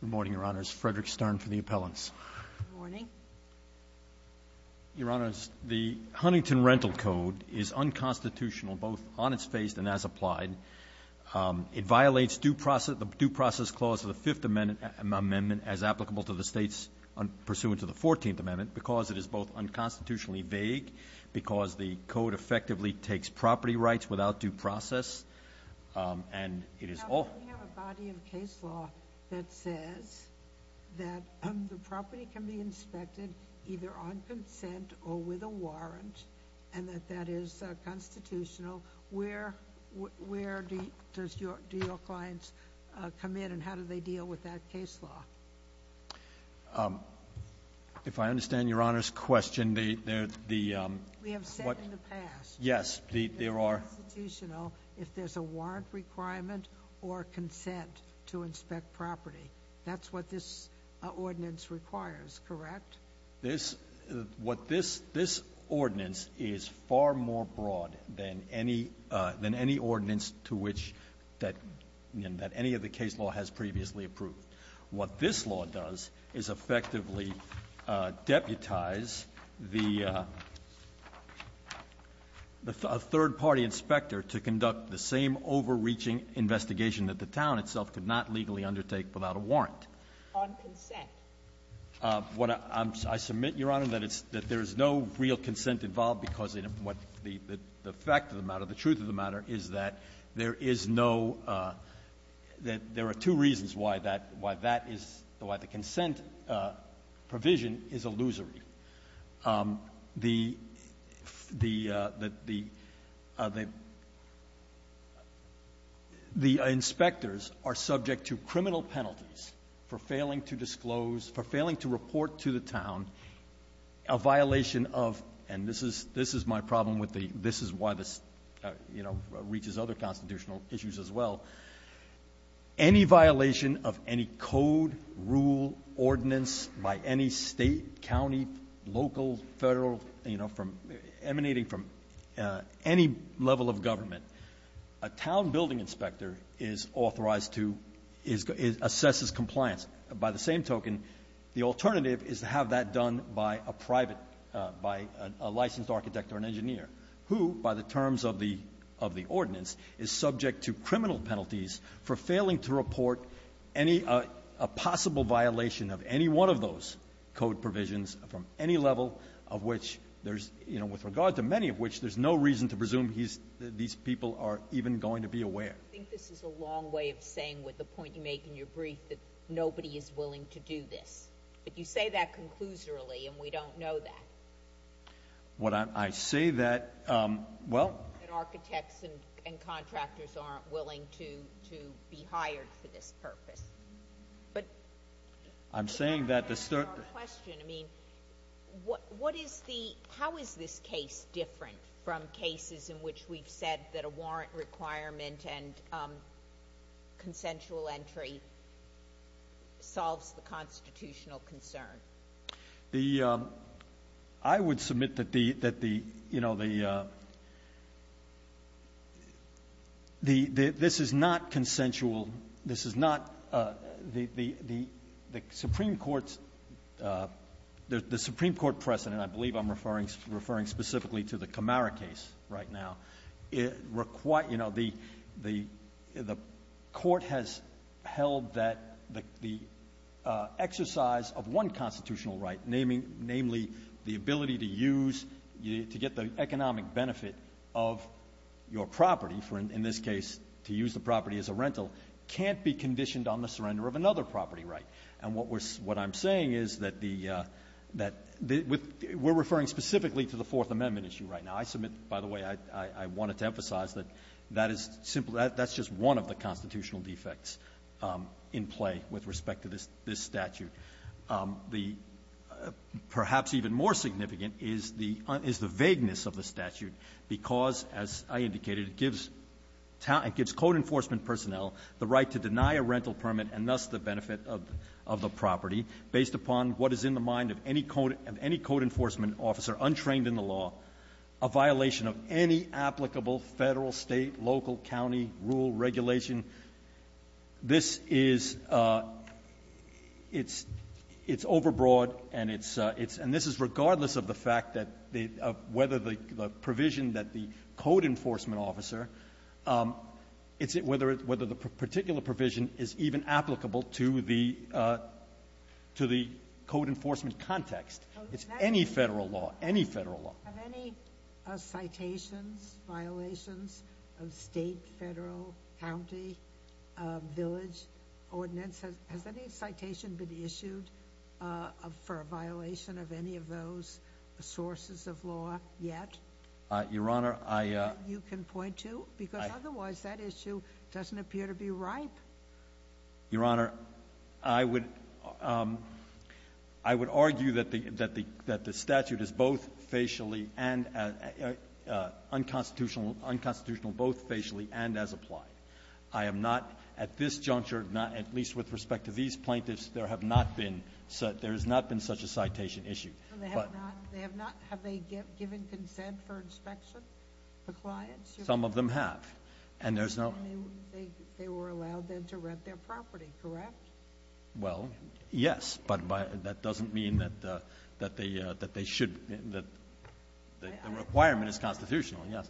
Good morning, Your Honors. Frederick Stern for the appellants. Good morning. Your Honors, the Huntington Rental Code is unconstitutional both on its face and as applied. It violates the due process clause of the Fifth Amendment as applicable to the states pursuant to the Fourteenth Amendment because it is both unconstitutionally vague, because the code effectively takes property rights without due process, and it is all... We have a body of case law that says that the property can be inspected either on consent or with a warrant, and that that is constitutional. Where do your clients come in, and how do they deal with that case law? If I understand Your Honors' question, the... We have said in the past... Yes, there are... If there's a warrant requirement or consent to inspect property. That's what this ordinance requires, correct? This, what this, this ordinance is far more broad than any, than any ordinance to which that, that any of the case law has previously approved. What this law does is effectively deputize the, a third-party inspector to conduct the same overreaching investigation that the town itself could not legally undertake without a warrant. On consent. What I, I submit, Your Honor, that it's, that there is no real consent involved because of what the, the fact of the matter, the truth of the matter is that there is no, that there are two reasons why that, why that is, why the consent provision is illusory. The, the, the, the inspectors are subject to criminal penalties for failing to disclose, for failing to report to the town a violation of, and this is, this is my problem with the, this is why this, you know, reaches other constitutional issues as well. Any violation of any code, rule, ordinance by any state, county, local, federal, you know, from emanating from any level of government, a town building inspector is authorized to, is, assesses compliance. By the same token, the alternative is to have that done by a private, by a licensed architect or an engineer who, by the terms of the, of the ordinance, is subject to criminal penalties for failing to report any, a, a possible violation of any one of those code provisions from any level of which there's, you know, with regard to many of which there's no reason to presume he's, these people are even going to be aware. I think this is a long way of saying with the point you make in your brief that nobody is willing to do this. But you say that conclusorily and we don't know that. What I, I say that, well. That architects and, and contractors aren't willing to, to be hired for this purpose. But. I'm saying that the certain. To answer your question, I mean, what, what is the, how is this case different from we've said that a warrant requirement and consensual entry solves the constitutional concern? The, I would submit that the, that the, you know, the, the, the, this is not consensual. This is not the, the, the, the Supreme Court's, the Supreme Court precedent, I believe I'm referring, referring specifically to the Camara case right now. It requires, you know, the, the, the court has held that the, the exercise of one constitutional right, naming, namely the ability to use, to get the economic benefit of your property for, in this case, to use the property as a rental, can't be conditioned on the surrender of another property right. And what we're, what I'm saying is that the, that the, we're referring specifically to the Fourth Amendment issue right now. I submit, by the way, I, I wanted to emphasize that that is simply, that's just one of the constitutional defects in play with respect to this, this statute. The perhaps even more significant is the, is the vagueness of the statute, because, as I indicated, it gives town, it gives code enforcement personnel the right to deny a rental permit and thus the benefit of, of the property based upon what is in the mind of any code, of any code enforcement officer untrained in the law, a violation of any applicable Federal, State, local, county rule regulation. This is, it's, it's overbroad and it's, it's, and this is regardless of the fact that the, of whether the, the provision that the code enforcement officer, it's, whether it, whether the particular provision is even applicable to the, to the code enforcement context. It's any Federal law, any Federal law. Sotomayor, have any citations, violations of State, Federal, county, village ordinance been issued for a violation of any of those sources of law yet? Your Honor, I. You can point to, because otherwise that issue doesn't appear to be ripe. Your Honor, I would, I would argue that the, that the, that the statute is both facially and unconstitutional, unconstitutional both facially and as applied. I am not at this juncture, not at least with respect to these plaintiffs, there have not been such, there has not been such a citation issue. They have not, they have not, have they given consent for inspection for clients? Some of them have. And there's no. I mean, they, they were allowed then to rent their property, correct? Well, yes, but by, that doesn't mean that, that they, that they should, that the requirement is constitutional. Yes.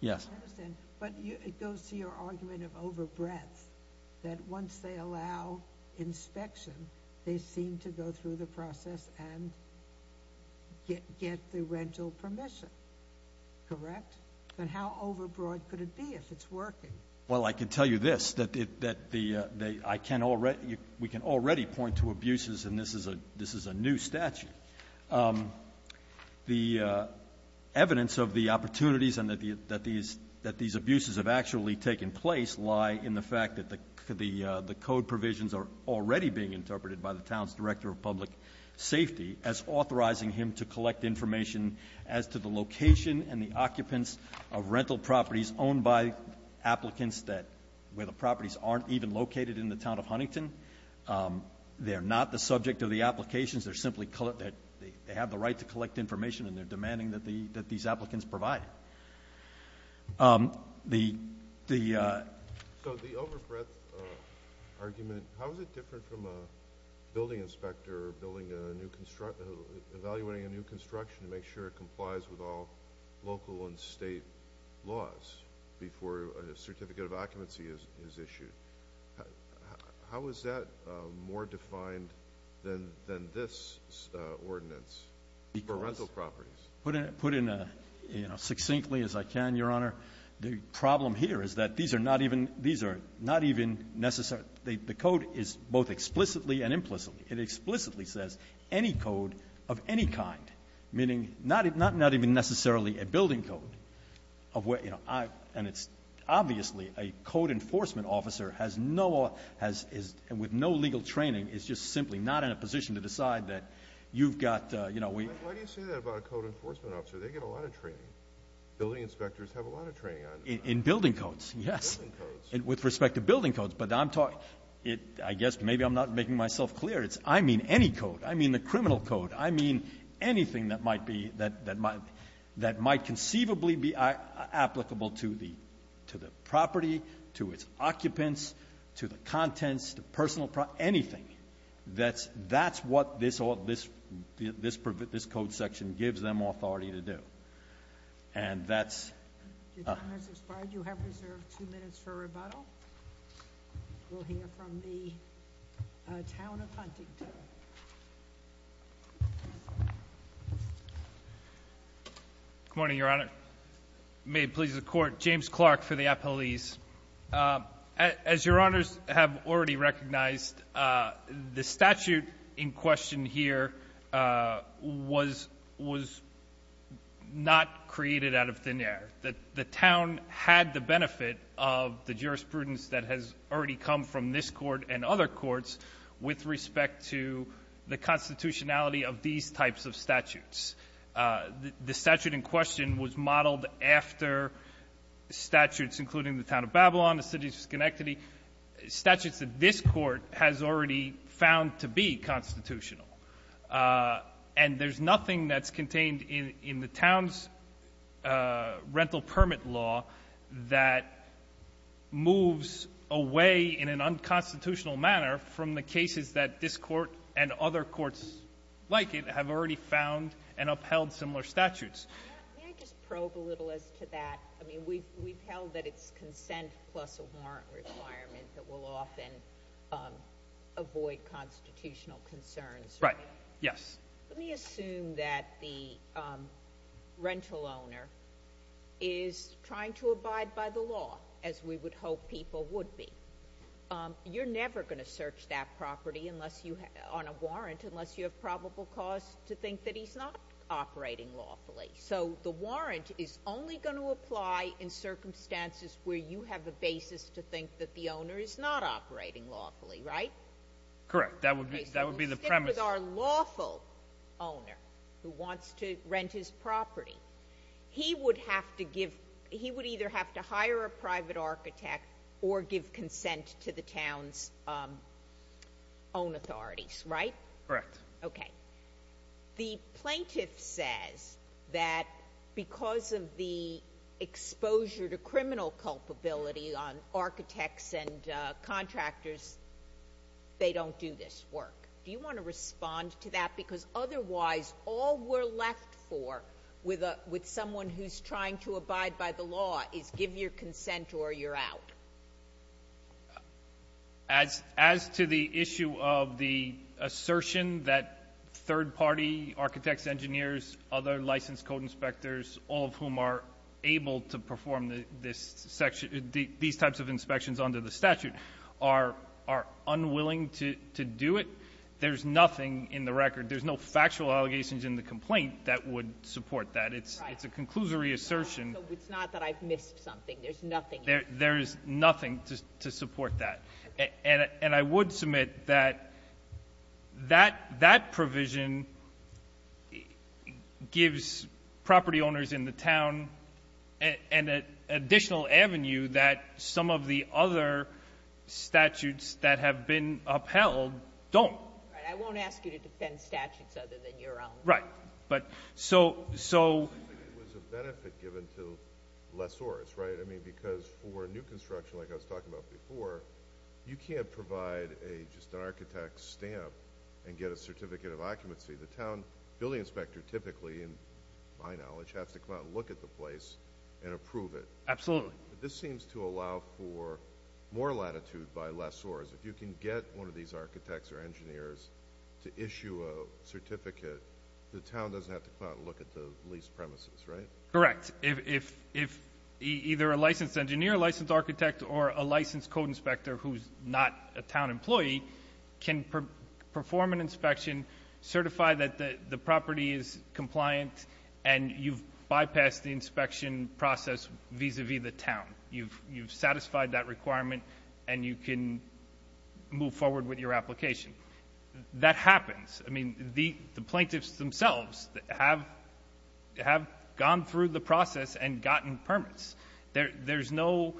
Yes. I understand. But it goes to your argument of over breadth, that once they allow inspection, they seem to go through the process and get, get the rental permission, correct? Then how over broad could it be if it's working? Well, I can tell you this, that, that the, I can already, we can already point to abuses and this is a, this is a new statute. The evidence of the opportunities and that the, that these, that these abuses have actually taken place lie in the fact that the, the code provisions are already being interpreted by the town's director of public safety as authorizing him to collect information as to the location and the occupants of rental properties owned by applicants that, where the properties aren't even located in the town of Huntington. They're not the subject of the applications. They're simply, they have the right to collect information and they're demanding that the, that these applicants provide it. The, the. So the over breadth argument, how is it different from a building inspector building a new construct, evaluating a new construction to make sure it complies with all local and state laws before a certificate of occupancy is, is issued? How is that more defined than, than this ordinance for rental properties? Put in, put in a, you know, succinctly as I can, Your Honor. The problem here is that these are not even, these are not even necessary. The, the code is both explicitly and implicitly. It explicitly says any code of any kind, meaning not, not even necessarily a building code of where, you know, I, and it's obviously a code enforcement officer has no, has, is, and with no legal training is just simply not in a position to decide that you've got, you know, we. Why do you say that about a code enforcement officer? They get a lot of training. Building inspectors have a lot of training on them. In building codes, yes. Building codes. With respect to building codes. But I'm talking, it, I guess maybe I'm not making myself clear. It's, I mean any code. I mean the criminal code. I mean anything that might be, that, that might, that might conceivably be applicable to the, to the property, to its occupants, to the contents, to personal, anything. That's, that's what this, this, this, this code section gives them authority to do. And that's. Your time has expired. You have reserved two minutes for rebuttal. We'll hear from the town of Huntington. Good morning, Your Honor. May it please the Court. James Clark for the appellees. As Your Honors have already recognized, the statute in question here was, was not created out of thin air. The town had the benefit of the jurisprudence that has already come from this court and other courts with respect to the constitutionality of these types of statutes. The statute in question was modeled after statutes including the town of Babylon, the city of Schenectady, statutes that this court has already found to be constitutional. And there's nothing that's contained in the town's rental permit law that moves away in an unconstitutional manner from the cases that this court and other courts like it have already found and upheld similar statutes. May I just probe a little as to that? I mean, we've, we've held that it's consent plus a warrant requirement that will often avoid constitutional concerns. Right. Yes. Let me assume that the rental owner is trying to abide by the law as we would hope people would be. You're never going to search that property unless you, on a warrant, unless you have probable cause to think that he's not operating lawfully. So the warrant is only going to apply in circumstances where you have a basis to think that the owner is not operating lawfully, right? Correct. That would be, that would be the premise. So we'll stick with our lawful owner who wants to rent his property. He would have to give, he would either have to hire a private architect or give consent to the town's own authorities, right? Correct. Okay. The plaintiff says that because of the exposure to criminal culpability on architects and contractors, they don't do this work. Do you want to respond to that? Because otherwise, all we're left for with someone who's trying to abide by the law is give your consent or you're out. As to the issue of the assertion that third-party architects, engineers, other licensed code inspectors, all of whom are able to perform these types of inspections under the statute, are unwilling to do it, there's nothing in the record. There's no factual allegations in the complaint that would support that. It's a conclusory assertion. It's not that I've missed something. There's nothing in it. There is nothing to support that. And I would submit that that provision gives property owners in the town an additional avenue that some of the other statutes that have been upheld don't. Right. I won't ask you to defend statutes other than your own. Right. But so — It seems like it was a benefit given to lessors, right? I mean, because for new construction, like I was talking about before, you can't provide just an architect's stamp and get a certificate of occupancy. The town building inspector typically, in my knowledge, has to come out and look at the place and approve it. Absolutely. But this seems to allow for more latitude by lessors. If you can get one of these architects or engineers to issue a certificate, the town doesn't have to come out and look at the leased premises, right? Correct. If either a licensed engineer, licensed architect, or a licensed code inspector who's not a town employee can perform an inspection, certify that the property is compliant, and you've bypassed the inspection process vis-à-vis the town. You've satisfied that requirement, and you can move forward with your application. That happens. I mean, the plaintiffs themselves have gone through the process and gotten permits. There's no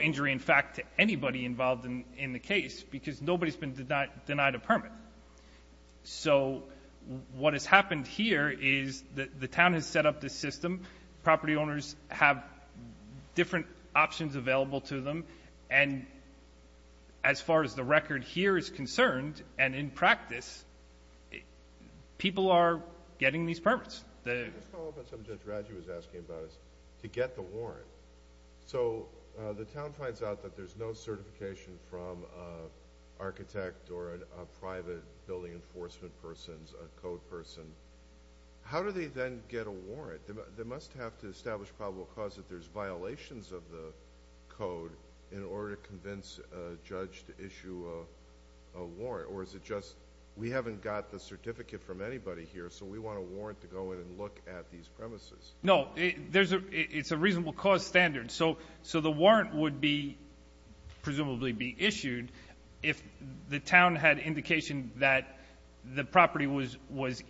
injury, in fact, to anybody involved in the case because nobody's been denied a permit. So what has happened here is the town has set up this system. Property owners have different options available to them. And as far as the record here is concerned, and in practice, people are getting these permits. Just to follow up on something Judge Radji was asking about is to get the warrant. So the town finds out that there's no certification from an architect or a private building enforcement person, a code person. How do they then get a warrant? They must have to establish probable cause that there's violations of the code in order to convince a judge to issue a warrant. Or is it just we haven't got the certificate from anybody here, so we want a warrant to go in and look at these premises? No. It's a reasonable cause standard. So the warrant would be presumably be issued if the town had indication that the property was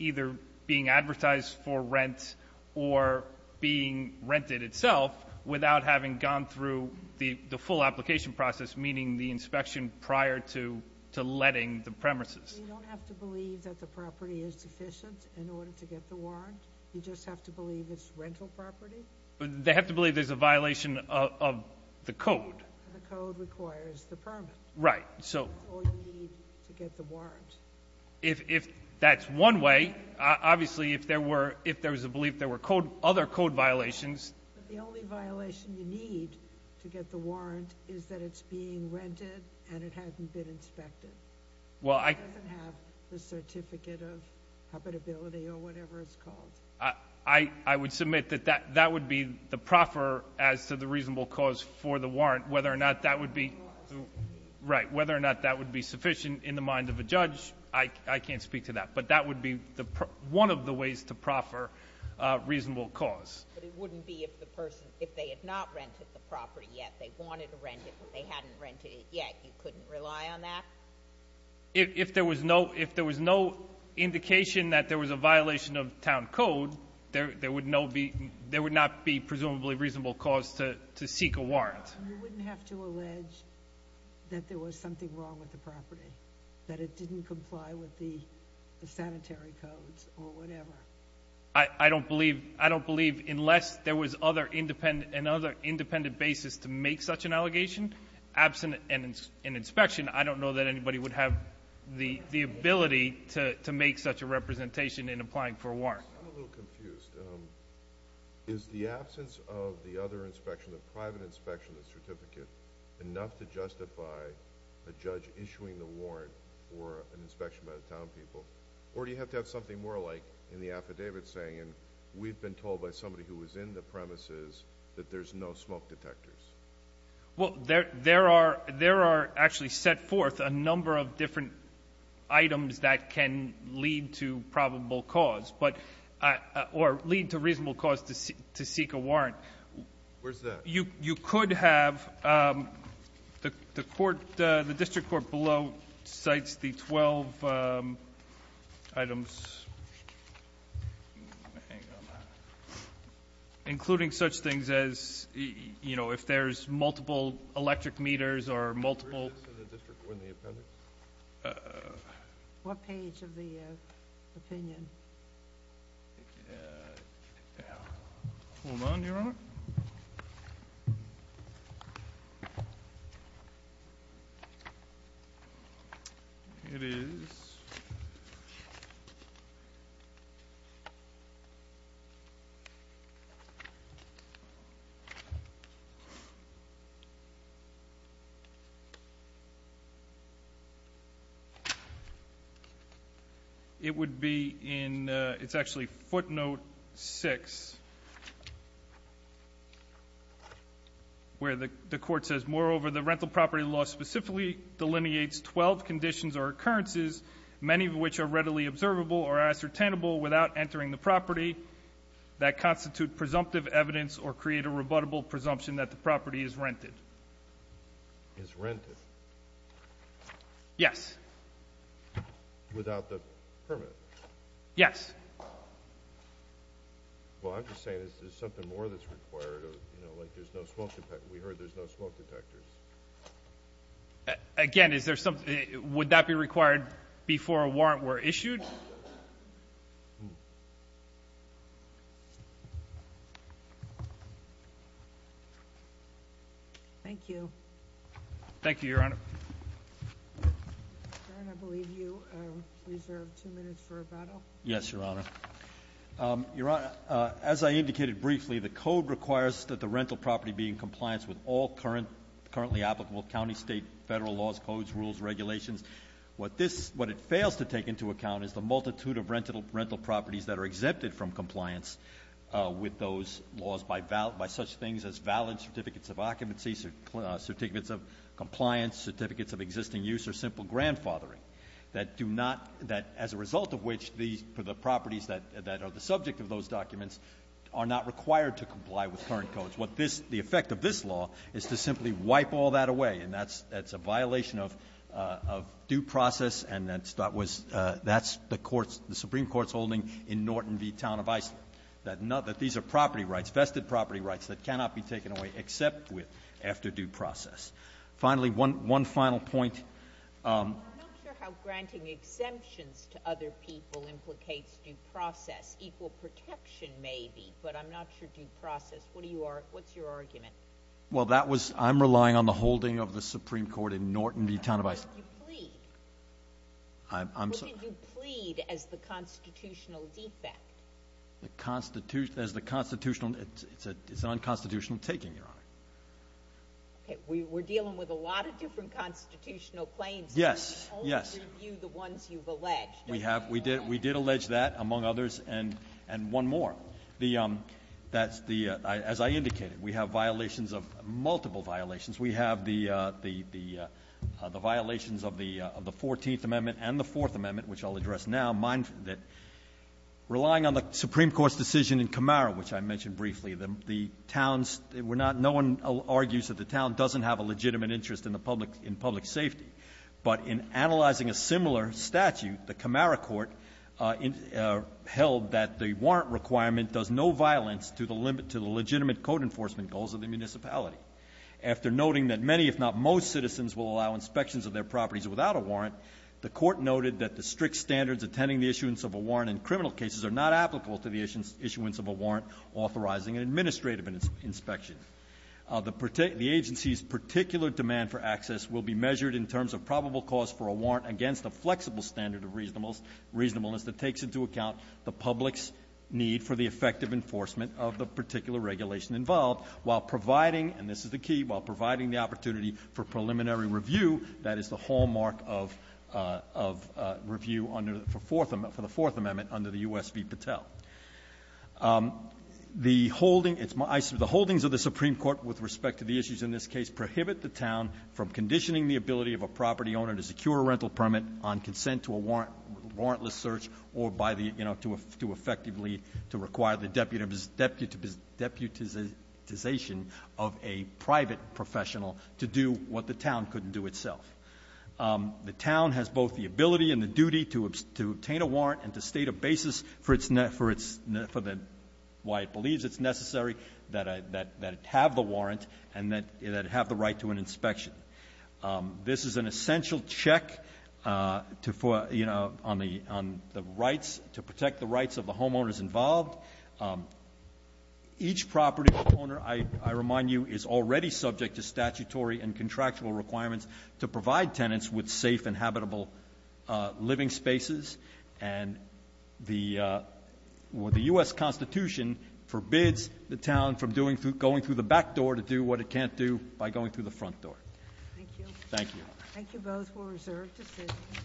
either being advertised for rent or being rented itself without having gone through the full application process, meaning the inspection prior to letting the premises. So you don't have to believe that the property is deficient in order to get the warrant? You just have to believe it's rental property? They have to believe there's a violation of the code. The code requires the permit. Right. Or you need to get the warrant. If that's one way, obviously if there was a belief there were other code violations. The only violation you need to get the warrant is that it's being rented and it hasn't been inspected. It doesn't have the certificate of habitability or whatever it's called. I would submit that that would be the proffer as to the reasonable cause for the warrant, whether or not that would be sufficient in the mind of a judge I can't speak to that, but that would be one of the ways to proffer reasonable cause. But it wouldn't be if the person, if they had not rented the property yet, they wanted to rent it but they hadn't rented it yet, you couldn't rely on that? If there was no indication that there was a violation of town code, there would not be presumably reasonable cause to seek a warrant. You wouldn't have to allege that there was something wrong with the property, that it didn't comply with the sanitary codes or whatever. I don't believe unless there was another independent basis to make such an allegation, absent an inspection, I don't know that anybody would have the ability to make such a representation in applying for a warrant. I'm a little confused. Is the absence of the other inspection, the private inspection, the certificate, enough to justify a judge issuing the warrant for an inspection by the town people? Or do you have to have something more like in the affidavit saying, we've been told by somebody who was in the premises that there's no smoke detectors? There are actually set forth a number of different items that can lead to probable cause or lead to reasonable cause to seek a warrant. Where's that? You could have the court, the district court below, cites the 12 items, including such things as if there's multiple electric meters or multiple. What page of the opinion? Hold on, Your Honor. It is. It would be in, it's actually footnote 6, where the court says, moreover, the rental property law specifically delineates 12 conditions or occurrences, many of which are readily observable or ascertainable without entering the property that constitute presumptive evidence or create a rebuttable presumption that the property is rented. Is rented? Yes. Without the permit? Yes. Well, I'm just saying, is there something more that's required? You know, like there's no smoke, we heard there's no smoke detectors. Again, is there something, would that be required before a warrant were issued? Thank you. Thank you, Your Honor. Your Honor, I believe you reserved two minutes for rebuttal. Yes, Your Honor. Your Honor, as I indicated briefly, the code requires that the rental property be in compliance with all currently applicable county, state, federal laws, codes, rules, regulations. What it fails to take into account is the multitude of rental properties that are exempted from compliance with those laws by such things as valid certificates of occupancy, certificates of compliance, certificates of existing use, or simple grandfathering. That as a result of which the properties that are the subject of those documents are not required to comply with current codes. What this, the effect of this law is to simply wipe all that away. And that's a violation of due process, and that's the Supreme Court's holding in Norton v. Town of Iceland, that these are property rights, vested property rights that cannot be taken away except with after due process. Finally, one final point. I'm not sure how granting exemptions to other people implicates due process. Maybe, but I'm not sure due process. What's your argument? Well, that was, I'm relying on the holding of the Supreme Court in Norton v. Town of Iceland. What did you plead? I'm sorry? What did you plead as the constitutional defect? As the constitutional, it's an unconstitutional taking, Your Honor. Okay, we're dealing with a lot of different constitutional claims. Yes, yes. We only review the ones you've alleged. We have. We did allege that, among others, and one more. That's the, as I indicated, we have violations of, multiple violations. We have the violations of the Fourteenth Amendment and the Fourth Amendment, which I'll address now. Relying on the Supreme Court's decision in Camaro, which I mentioned briefly, the towns were not, no one argues that the town doesn't have a legitimate interest in the public, in public safety. But in analyzing a similar statute, the Camaro court held that the warrant requirement does no violence to the legitimate code enforcement goals of the municipality. After noting that many, if not most, citizens will allow inspections of their properties without a warrant, the court noted that the strict standards attending the issuance of a warrant in criminal cases are not applicable to the issuance of a warrant authorizing an administrative inspection. The agency's particular demand for access will be measured in terms of probable cause for a warrant against a flexible standard of reasonableness that takes into account the public's need for the effective enforcement of the particular regulation involved while providing, and this is the key, while providing the opportunity for preliminary review that is the hallmark of review under the Fourth Amendment under the U.S. v. Patel. The holding of the Supreme Court with respect to the issues in this case prohibit the town from conditioning the ability of a property owner to secure a rental permit on consent to a warrantless search or by the, you know, to effectively to require the deputization of a private professional to do what the town couldn't do itself. The town has both the ability and the duty to obtain a warrant and to state a basis for its, for the, why it believes it's necessary that it have the warrant and that it have the right to an inspection. This is an essential check to for, you know, on the rights, to protect the rights of the homeowners involved. Each property owner, I remind you, is already subject to statutory and contractual requirements to provide tenants with safe and habitable living spaces. And the U.S. Constitution forbids the town from going through the back door to do what it can't do by going through the front door. Thank you. Thank you. Thank you both for reserved decisions.